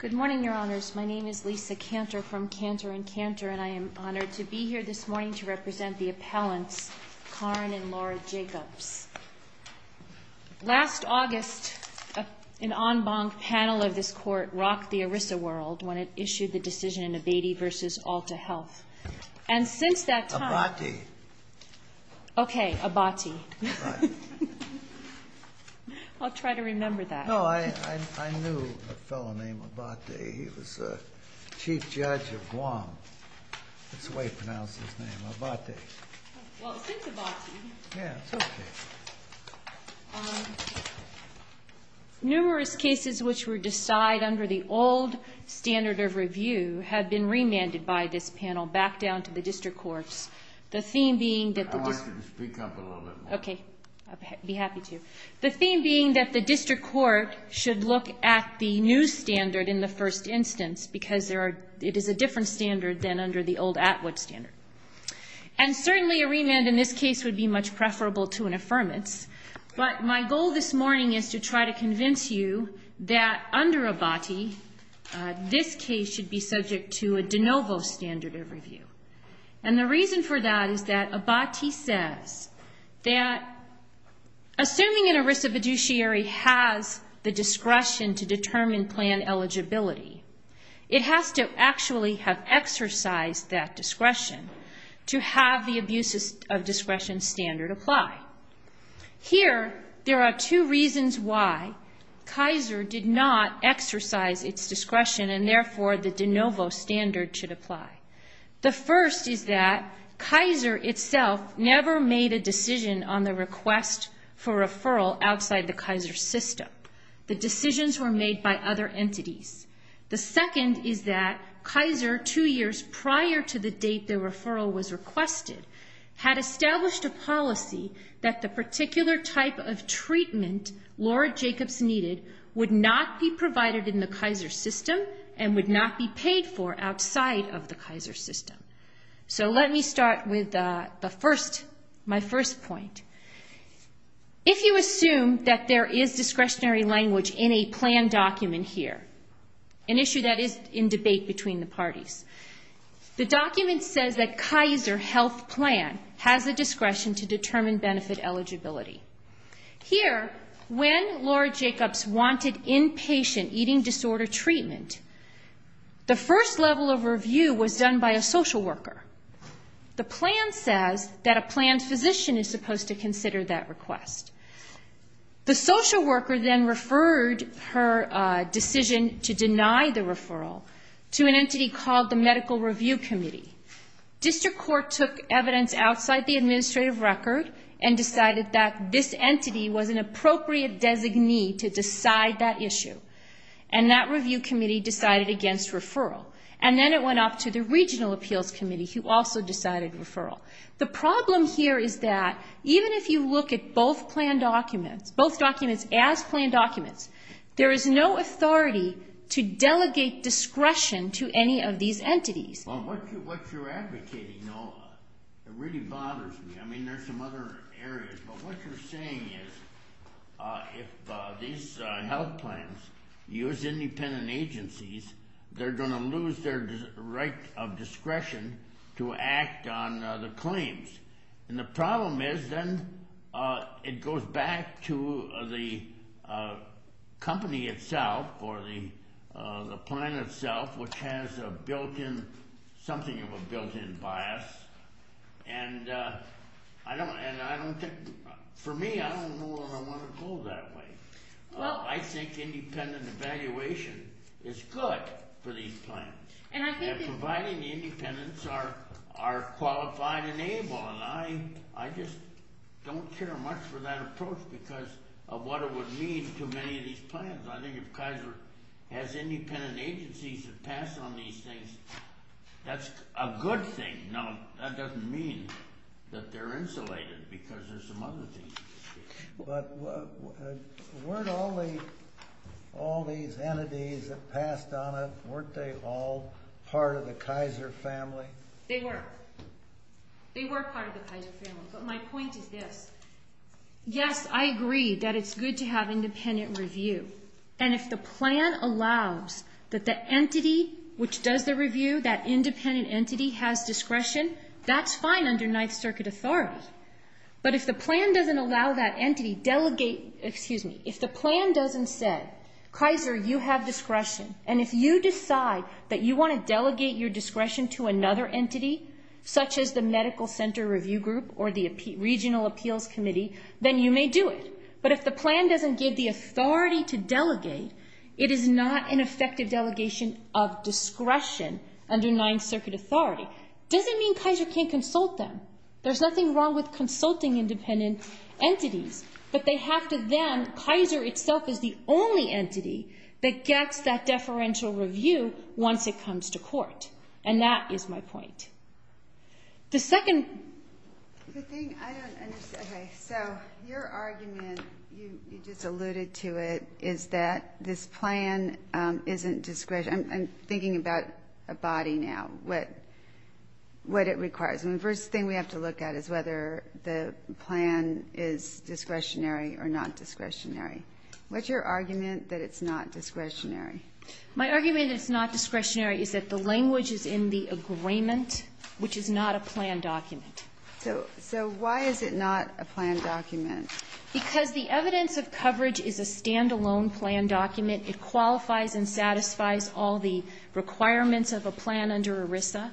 Good morning, Your Honors. My name is Lisa Cantor from Cantor & Cantor, and I am honored to be here this morning to represent the appellants, Karn and Laura Jacobs. Last August, an en banc panel of this Court rocked the ERISA world when it issued the decision in Abatey v. Alta Health. And since that time... Abatey. Okay, Abatey. Right. I'll try to remember that. No, I knew a fellow named Abatey. He was a chief judge of Guam. That's the way he pronounced his name, Abatey. Well, since Abatey... Yeah, it's okay. Numerous cases which were decided under the old standard of review have been remanded by this panel back down to the district courts. The theme being that the district... I'd like you to speak up a little bit more. Okay, I'd be happy to. The theme being that the district court should look at the new standard in the first instance because it is a different standard than under the old Atwood standard. And certainly a remand in this case would be much preferable to an affirmance, but my goal this morning is to try to convince you that under Abatey, this case should be subject to a de novo standard of review. And the reason for that is that assuming an erisa fiduciary has the discretion to determine plan eligibility, it has to actually have exercised that discretion to have the abuse of discretion standard apply. Here, there are two reasons why Kaiser did not exercise its discretion and therefore the de novo standard should apply. The first is that Kaiser itself never made a decision on the request for referral outside the Kaiser system. The decisions were made by other entities. The second is that Kaiser two years prior to the date the referral was requested had established a policy that the particular type of treatment Laura Jacobs needed would not be provided in the Kaiser system and would not be paid for outside of the Kaiser system. So let me start with the first, my first point. If you assume that there is discretionary language in a plan document here, an issue that is in debate between the parties, the document says that Kaiser health plan has the discretion to determine benefit eligibility. Here, when Laura Jacobs wanted inpatient eating disorder treatment, the first level of review was done by a social worker. The plan says that a planned physician is supposed to consider that request. The social worker then referred her decision to deny the referral to an entity called the medical review committee. District court took evidence outside the administrative record and decided that this entity was an issue. And that review committee decided against referral. And then it went up to the regional appeals committee who also decided referral. The problem here is that even if you look at both plan documents, both documents as planned documents, there is no authority to delegate discretion to any of these entities. Well, what you're advocating, Laura, it really bothers me. I mean, there's some other areas. But what you're saying is if these health plans use independent agencies, they're going to lose their right of discretion to act on the claims. And the problem is then it goes back to the company itself or the plan itself, which has a built-in, something of a built-in bias. And for me, I don't know where I want to go that way. I think independent evaluation is good for these plans. And providing the independents are qualified and able. And I just don't care much for that approach because of what it would mean to many of these plans. Because I think if Kaiser has independent agencies that pass on these things, that's a good thing. Now, that doesn't mean that they're insulated because there's some other things. But weren't all these entities that passed on it, weren't they all part of the Kaiser family? They were. They were part of the Kaiser family. But my point is this. Yes, I agree that it's good to have independent review. And if the plan allows that the entity which does the review, that independent entity, has discretion, that's fine under Ninth Circuit authority. But if the plan doesn't allow that entity delegate, excuse me, if the plan doesn't say, Kaiser, you have discretion. And if you decide that you want to delegate your discretion to another entity, such as the Medical Center Review Group or the Regional Appeals Committee, then you may do it. But if the plan doesn't give the authority to delegate, it is not an effective delegation of discretion under Ninth Circuit authority. Doesn't mean Kaiser can't consult them. There's nothing wrong with consulting independent entities. But they have to then, Kaiser itself is the only entity that gets that deferential review once it comes to court. And that is my point. The second... The thing I don't understand. Okay. So your argument, you just alluded to it, is that this plan isn't discretionary. I'm thinking about a body now, what it requires. And the first thing we have to look at is whether the plan is discretionary or not discretionary. What's your argument that it's not discretionary? My argument that it's not discretionary is that the language is in the agreement, which is not a plan document. So why is it not a plan document? Because the evidence of coverage is a stand-alone plan document. It qualifies and satisfies all the requirements of a plan under ERISA.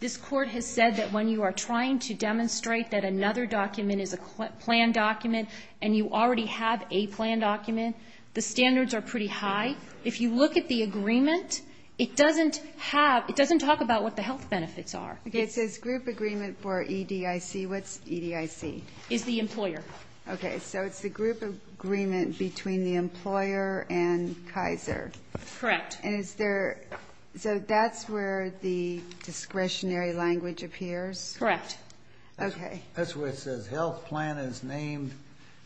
This Court has said that when you are trying to demonstrate that another document is a plan document and you already have a plan document, the standards are pretty high. If you look at the agreement, it doesn't have, it doesn't talk about what the health benefits are. Okay. It says group agreement for EDIC. What's EDIC? It's the employer. Okay. So it's the group agreement between the employer and Kaiser. Correct. And is there, so that's where the discretionary language appears? Correct. Okay. That's where it says health plan is named,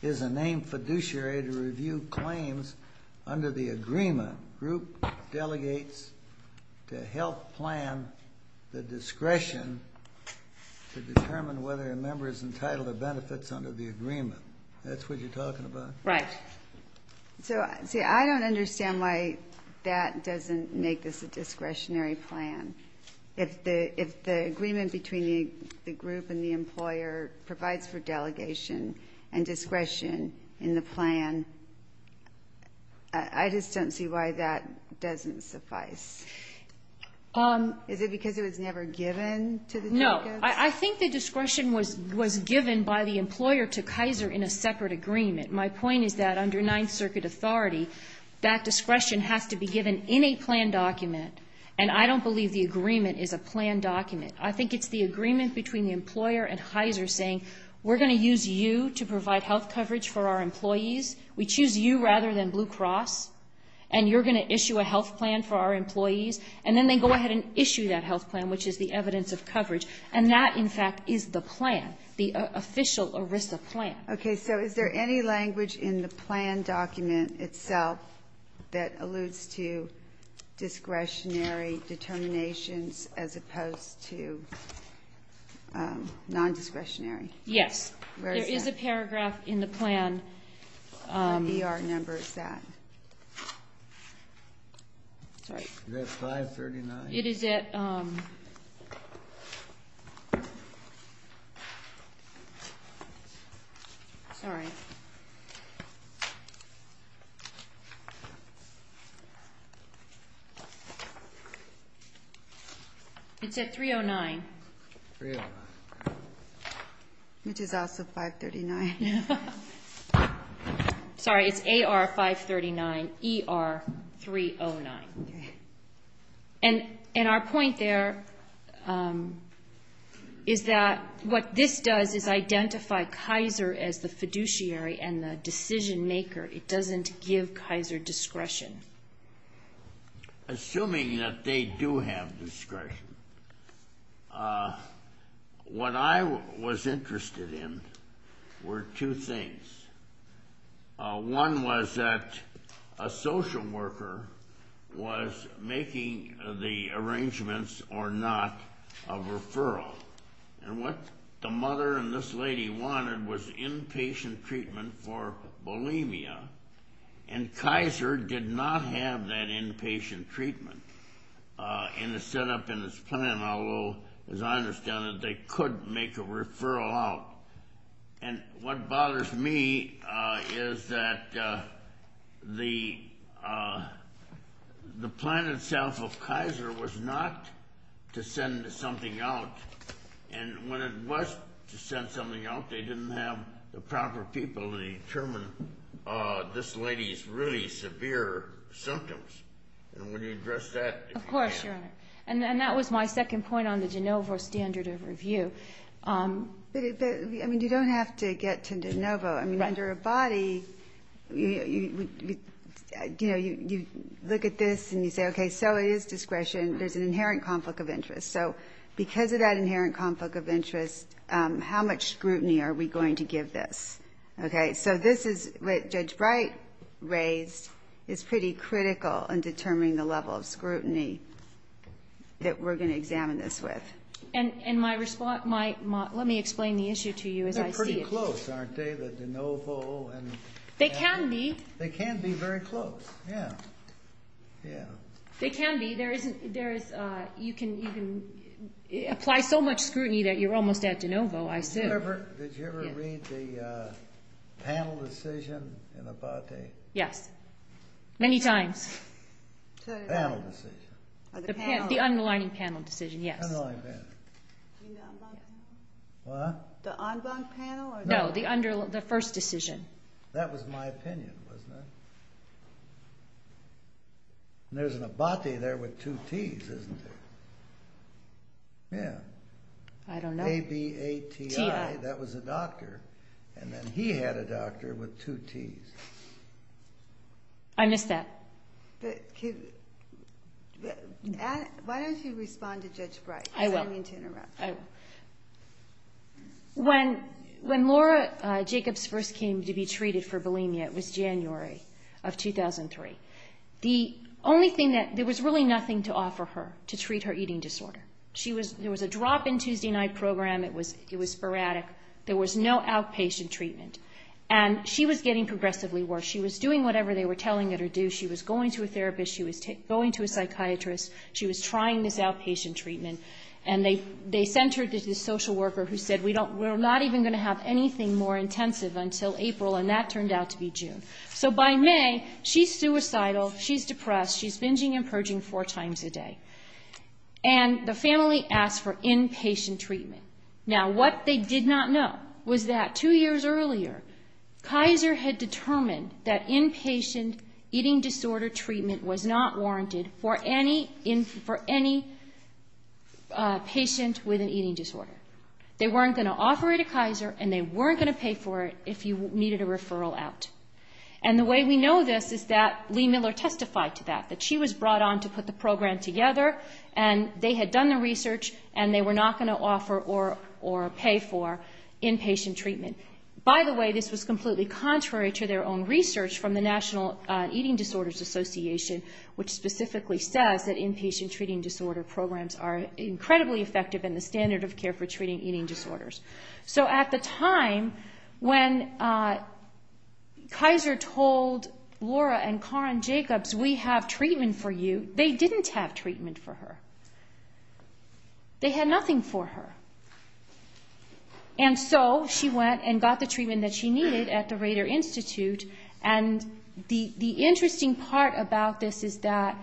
is a named fiduciary to review claims under the agreement. Group delegates to health plan the discretion to determine whether a member is entitled to benefits under the agreement. That's what you're talking about? Right. So, see, I don't understand why that doesn't make this a discretionary plan. If the agreement between the group and the employer provides for delegation and discretion in the plan, I just don't see why that doesn't suffice. Is it because it was never given to the delegates? No. I think the discretion was given by the employer to Kaiser in a separate agreement. My point is that under Ninth Circuit authority, that discretion has to be given in a plan document, and I don't believe the agreement is a plan document. I think it's the agreement between the employer and Kaiser saying, we're going to use you to provide health coverage for our employees. We choose you rather than Blue Cross, and you're going to issue a health plan for our employees. And then they go ahead and issue that health plan, which is the evidence of coverage. And that, in fact, is the plan, the official ERISA plan. Okay. So is there any language in the plan document itself that alludes to discretionary determinations as opposed to nondiscretionary? Yes. Where is that? There is a paragraph in the plan. What ER number is that? Sorry. Is that 539? It is at... Sorry. It's at 309. 309. Which is also 539. Sorry. It's AR 539, ER 309. Okay. And our point there is that what this does is identify Kaiser as the fiduciary and the decision maker. It doesn't give Kaiser discretion. Assuming that they do have discretion, what I was interested in were two things. One was that a social worker was making the arrangements or not of referral. And what the mother and this lady wanted was inpatient treatment for bulimia. And Kaiser did not have that inpatient treatment in the setup in this plan, although, as I understand it, they could make a referral out. And what bothers me is that the plan itself of Kaiser was not to send something out. And when it was to send something out, they didn't have the proper people to determine this lady's really severe symptoms. And when you address that... Yes, Your Honor. And that was my second point on the de novo standard of review. But, I mean, you don't have to get to de novo. I mean, under a body, you know, you look at this and you say, okay, so it is discretion. There's an inherent conflict of interest. So because of that inherent conflict of interest, how much scrutiny are we going to give this? Okay. So this is what Judge Bright raised is pretty critical in determining the level of scrutiny that we're going to examine this with. And my response... Let me explain the issue to you as I see it. They're pretty close, aren't they? The de novo and... They can be. They can be very close. Yeah. Yeah. They can be. There is... You can even apply so much scrutiny that you're almost at de novo, I assume. Did you ever read the panel decision in Abate? Yes. Many times. Panel decision. The panel. The underlining panel decision, yes. Underlining panel. Do you mean the en banc panel? What? The en banc panel or the... No, the first decision. That was my opinion, wasn't it? And there's an Abate there with two Ts, isn't there? Yeah. I don't know. A-B-A-T-I. T-I. That was a doctor, and then he had a doctor with two Ts. I missed that. Why don't you respond to Judge Bright? I will. Because I didn't mean to interrupt. I will. When Laura Jacobs first came to be treated for bulimia, it was January of 2003. The only thing that... There was really nothing to offer her to treat her eating disorder. There was a drop-in Tuesday night program. It was sporadic. There was no outpatient treatment. And she was getting progressively worse. She was doing whatever they were telling her to do. She was going to a therapist. She was going to a psychiatrist. She was trying this outpatient treatment. And they sent her to this social worker who said, we're not even going to have anything more intensive until April, and that turned out to be June. So by May, she's suicidal. She's depressed. She's binging and purging four times a day. And the family asked for inpatient treatment. Now, what they did not know was that two years earlier, Kaiser had determined that inpatient eating disorder treatment was not warranted for any patient with an eating disorder. They weren't going to offer it to Kaiser, and they weren't going to pay for it if you needed a referral out. And the way we know this is that Lee Miller testified to that, that she was brought on to put the program together, and they had done the research, and they were not going to offer or pay for inpatient treatment. By the way, this was completely contrary to their own research from the National Eating Disorders Association, which specifically says that inpatient treating disorder programs are incredibly effective in the standard of care for treating eating disorders. So at the time when Kaiser told Laura and Karin Jacobs, we have treatment for you, they didn't have treatment for her. They had nothing for her. And so she went and got the treatment that she needed at the Rader Institute, and the interesting part about this is that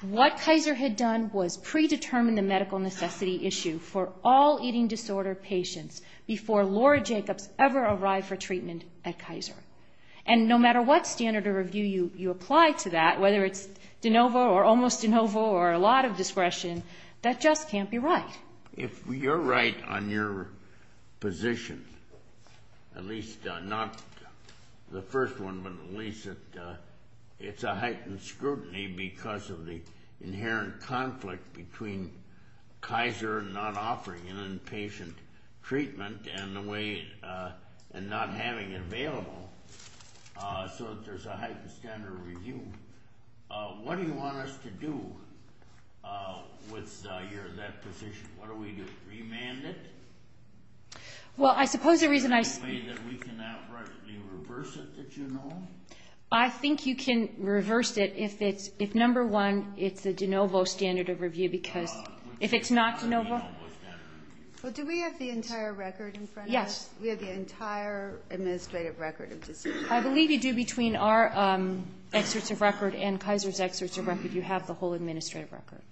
what Kaiser had done was predetermine the medical necessity issue for all eating disorder patients before Laura Jacobs ever arrived for treatment at Kaiser. And no matter what standard of review you apply to that, whether it's de novo or almost de novo or a lot of discretion, that just can't be right. If you're right on your position, at least not the first one, but at least it's a heightened scrutiny because of the inherent conflict between Kaiser not offering an inpatient treatment and not having it available so that there's a heightened standard of review. What do you want us to do with that position? What do we do, remand it? Well, I suppose the reason I say... Is there a way that we can outrightly reverse it that you know? I think you can reverse it if, number one, it's a de novo standard of review because if it's not de novo... Well, do we have the entire record in front of us? Yes. We have the entire administrative record of disorder? I believe you do between our excerpts of record and Kaiser's excerpts of record. You have the whole administrative record.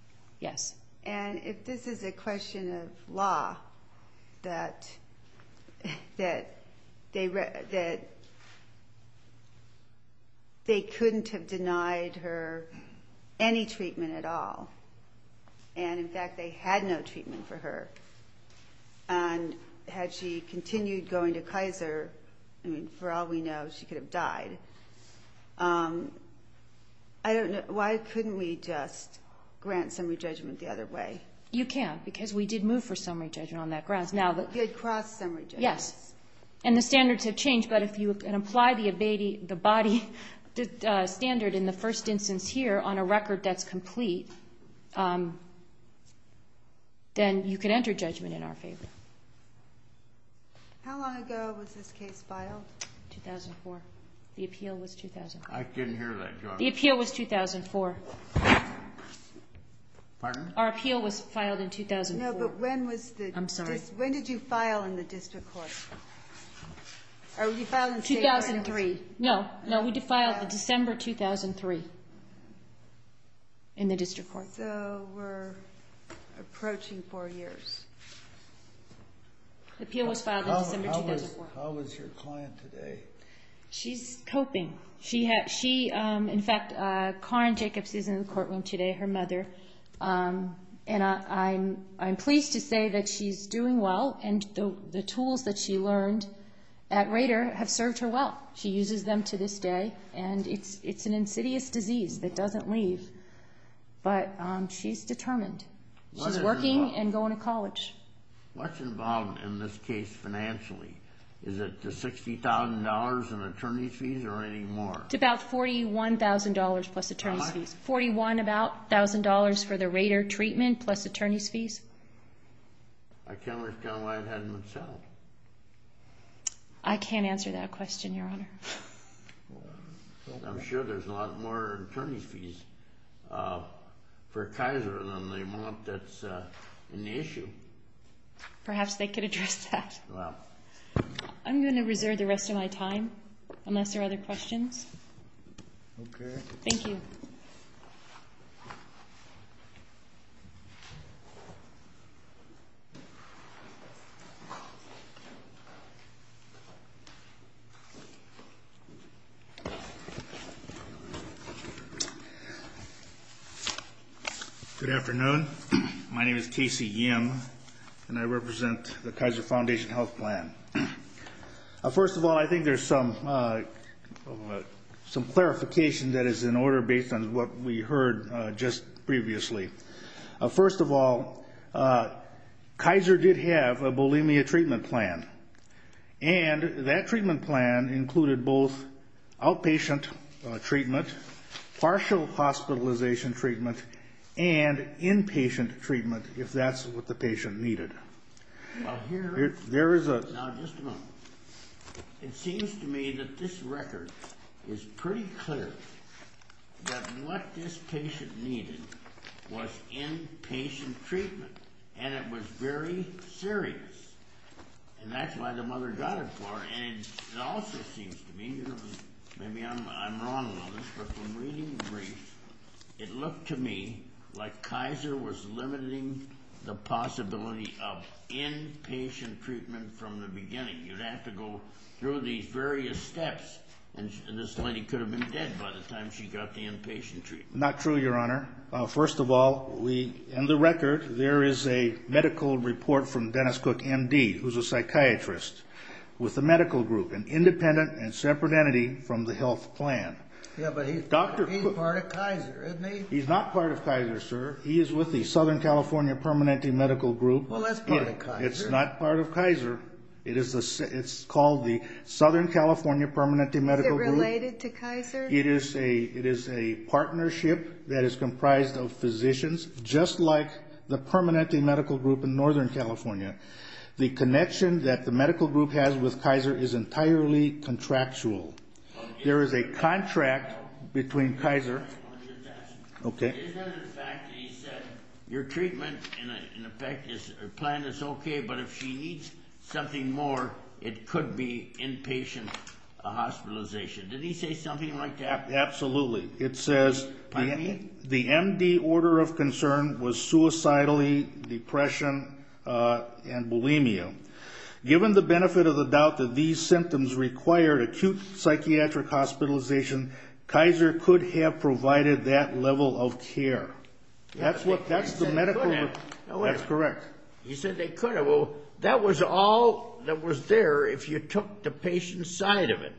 Yes. And if this is a question of law, that they couldn't have denied her any treatment at all, and in fact they had no treatment for her, and had she continued going to Kaiser, for all we know she could have died, I don't know. Why couldn't we just grant summary judgment the other way? You can because we did move for summary judgment on that grounds. We did cross summary judgment. Yes. And the standards have changed, but if you can apply the ABADE, the body standard in the first instance here on a record that's complete, then you can enter judgment in our favor. How long ago was this case filed? 2004. The appeal was 2004. I couldn't hear that. The appeal was 2004. Pardon? Our appeal was filed in 2004. No, but when did you file in the district court? 2003. No. No, we filed in December 2003 in the district court. So we're approaching four years. The appeal was filed in December 2004. How is your client today? She's coping. In fact, Karin Jacobs is in the courtroom today, her mother, and I'm pleased to say that she's doing well, and the tools that she learned at Rader have served her well. She uses them to this day, and it's an insidious disease that doesn't leave, but she's determined. She's working and going to college. What's involved in this case financially? Is it the $60,000 in attorney's fees or any more? It's about $41,000 plus attorney's fees. $41,000 for the Rader treatment plus attorney's fees. I can't understand why it hasn't been settled. I can't answer that question, Your Honor. I'm sure there's a lot more attorney's fees for Kaiser than they want that's an issue. Perhaps they could address that. I'm going to reserve the rest of my time unless there are other questions. Okay. Thank you. Good afternoon. My name is Casey Yim, and I represent the Kaiser Foundation Health Plan. First of all, I think there's some clarification that is in order based on what we heard just previously. First of all, Kaiser did have a bulimia treatment plan, and that treatment plan included both outpatient treatment, partial hospitalization treatment, and inpatient treatment, if that's what the patient needed. Now, just a moment. It seems to me that this record is pretty clear that what this patient needed was inpatient treatment, and it was very serious. And that's why the mother got it for her. And it also seems to me, maybe I'm wrong on this, but from reading the brief, it looked to me like Kaiser was limiting the possibility of inpatient treatment from the beginning. You'd have to go through these various steps, and this lady could have been dead by the time she got the inpatient treatment. Not true, Your Honor. First of all, in the record, there is a medical report from Dennis Cook, M.D., who's a psychiatrist with a medical group, an independent and separate entity from the health plan. Yeah, but he's part of Kaiser, isn't he? He's not part of Kaiser, sir. He is with the Southern California Permanente Medical Group. Well, that's part of Kaiser. It's not part of Kaiser. It's called the Southern California Permanente Medical Group. Is it related to Kaiser? It is a partnership that is comprised of physicians, just like the Permanente Medical Group in Northern California. The connection that the medical group has with Kaiser is entirely contractual. There is a contract between Kaiser. Okay. Is that, in fact, he said, your treatment, in effect, plan is okay, but if she needs something more, it could be inpatient hospitalization. Did he say something like that? Absolutely. It says the M.D. order of concern was suicidally, depression, and bulimia. Given the benefit of the doubt that these symptoms required acute psychiatric hospitalization, Kaiser could have provided that level of care. That's the medical report. That's correct. He said they could have. Well, that was all that was there if you took the patient's side of it.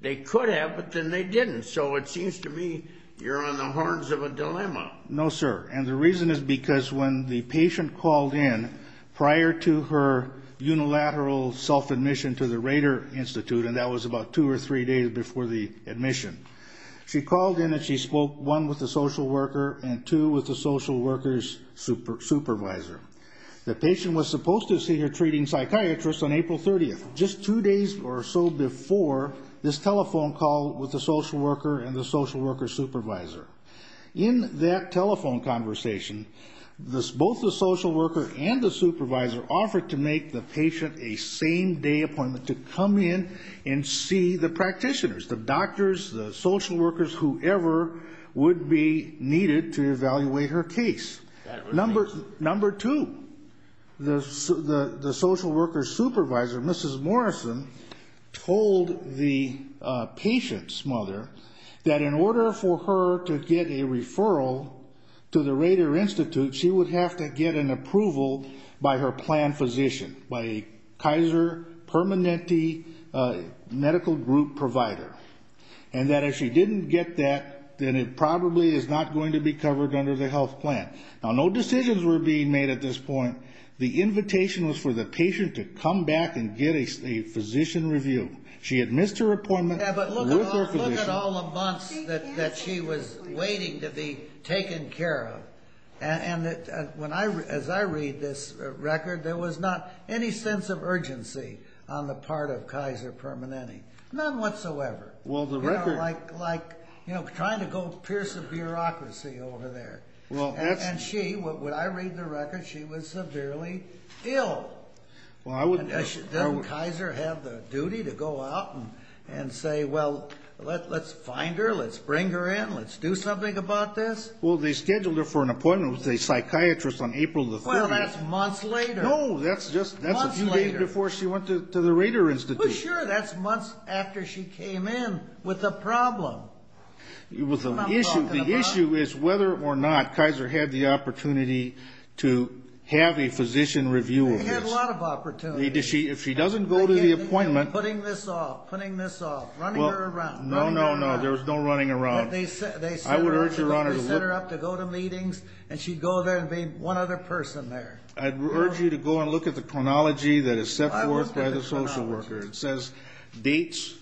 They could have, but then they didn't. So it seems to me you're on the horns of a dilemma. No, sir. And the reason is because when the patient called in prior to her unilateral self-admission to the Rader Institute, and that was about two or three days before the admission, she called in and she spoke, one, with the social worker, and two, with the social worker's supervisor. The patient was supposed to see her treating psychiatrist on April 30th, just two days or so before this telephone call with the social worker and the social worker's supervisor. In that telephone conversation, both the social worker and the supervisor offered to make the patient a same-day appointment to come in and see the practitioners, the doctors, the social workers, whoever would be needed to evaluate her case. Number two, the social worker's supervisor, Mrs. Morrison, told the patient's mother that in order for her to get a referral to the Rader Institute, she would have to get an approval by her plan physician, by a Kaiser Permanente medical group provider, and that if she didn't get that, then it probably is not going to be covered under the health plan. Now, no decisions were being made at this point. The invitation was for the patient to come back and get a physician review. She had missed her appointment with her physician. Yeah, but look at all the months that she was waiting to be taken care of. And as I read this record, there was not any sense of urgency on the part of Kaiser Permanente. None whatsoever. You know, like trying to go pierce a bureaucracy over there. And she, when I read the record, she was severely ill. Didn't Kaiser have the duty to go out and say, well, let's find her, let's bring her in, let's do something about this? Well, they scheduled her for an appointment with a psychiatrist on April the 4th. Well, that's months later. No, that's a few days before she went to the Rader Institute. Well, sure, that's months after she came in with a problem. The issue is whether or not Kaiser had the opportunity to have a physician review of this. They had a lot of opportunities. If she doesn't go to the appointment. Putting this off, putting this off, running her around. No, no, no, there was no running around. They set her up to go to meetings, and she'd go there and be one other person there. I urge you to go and look at the chronology that is set forth by the social worker. It says dates.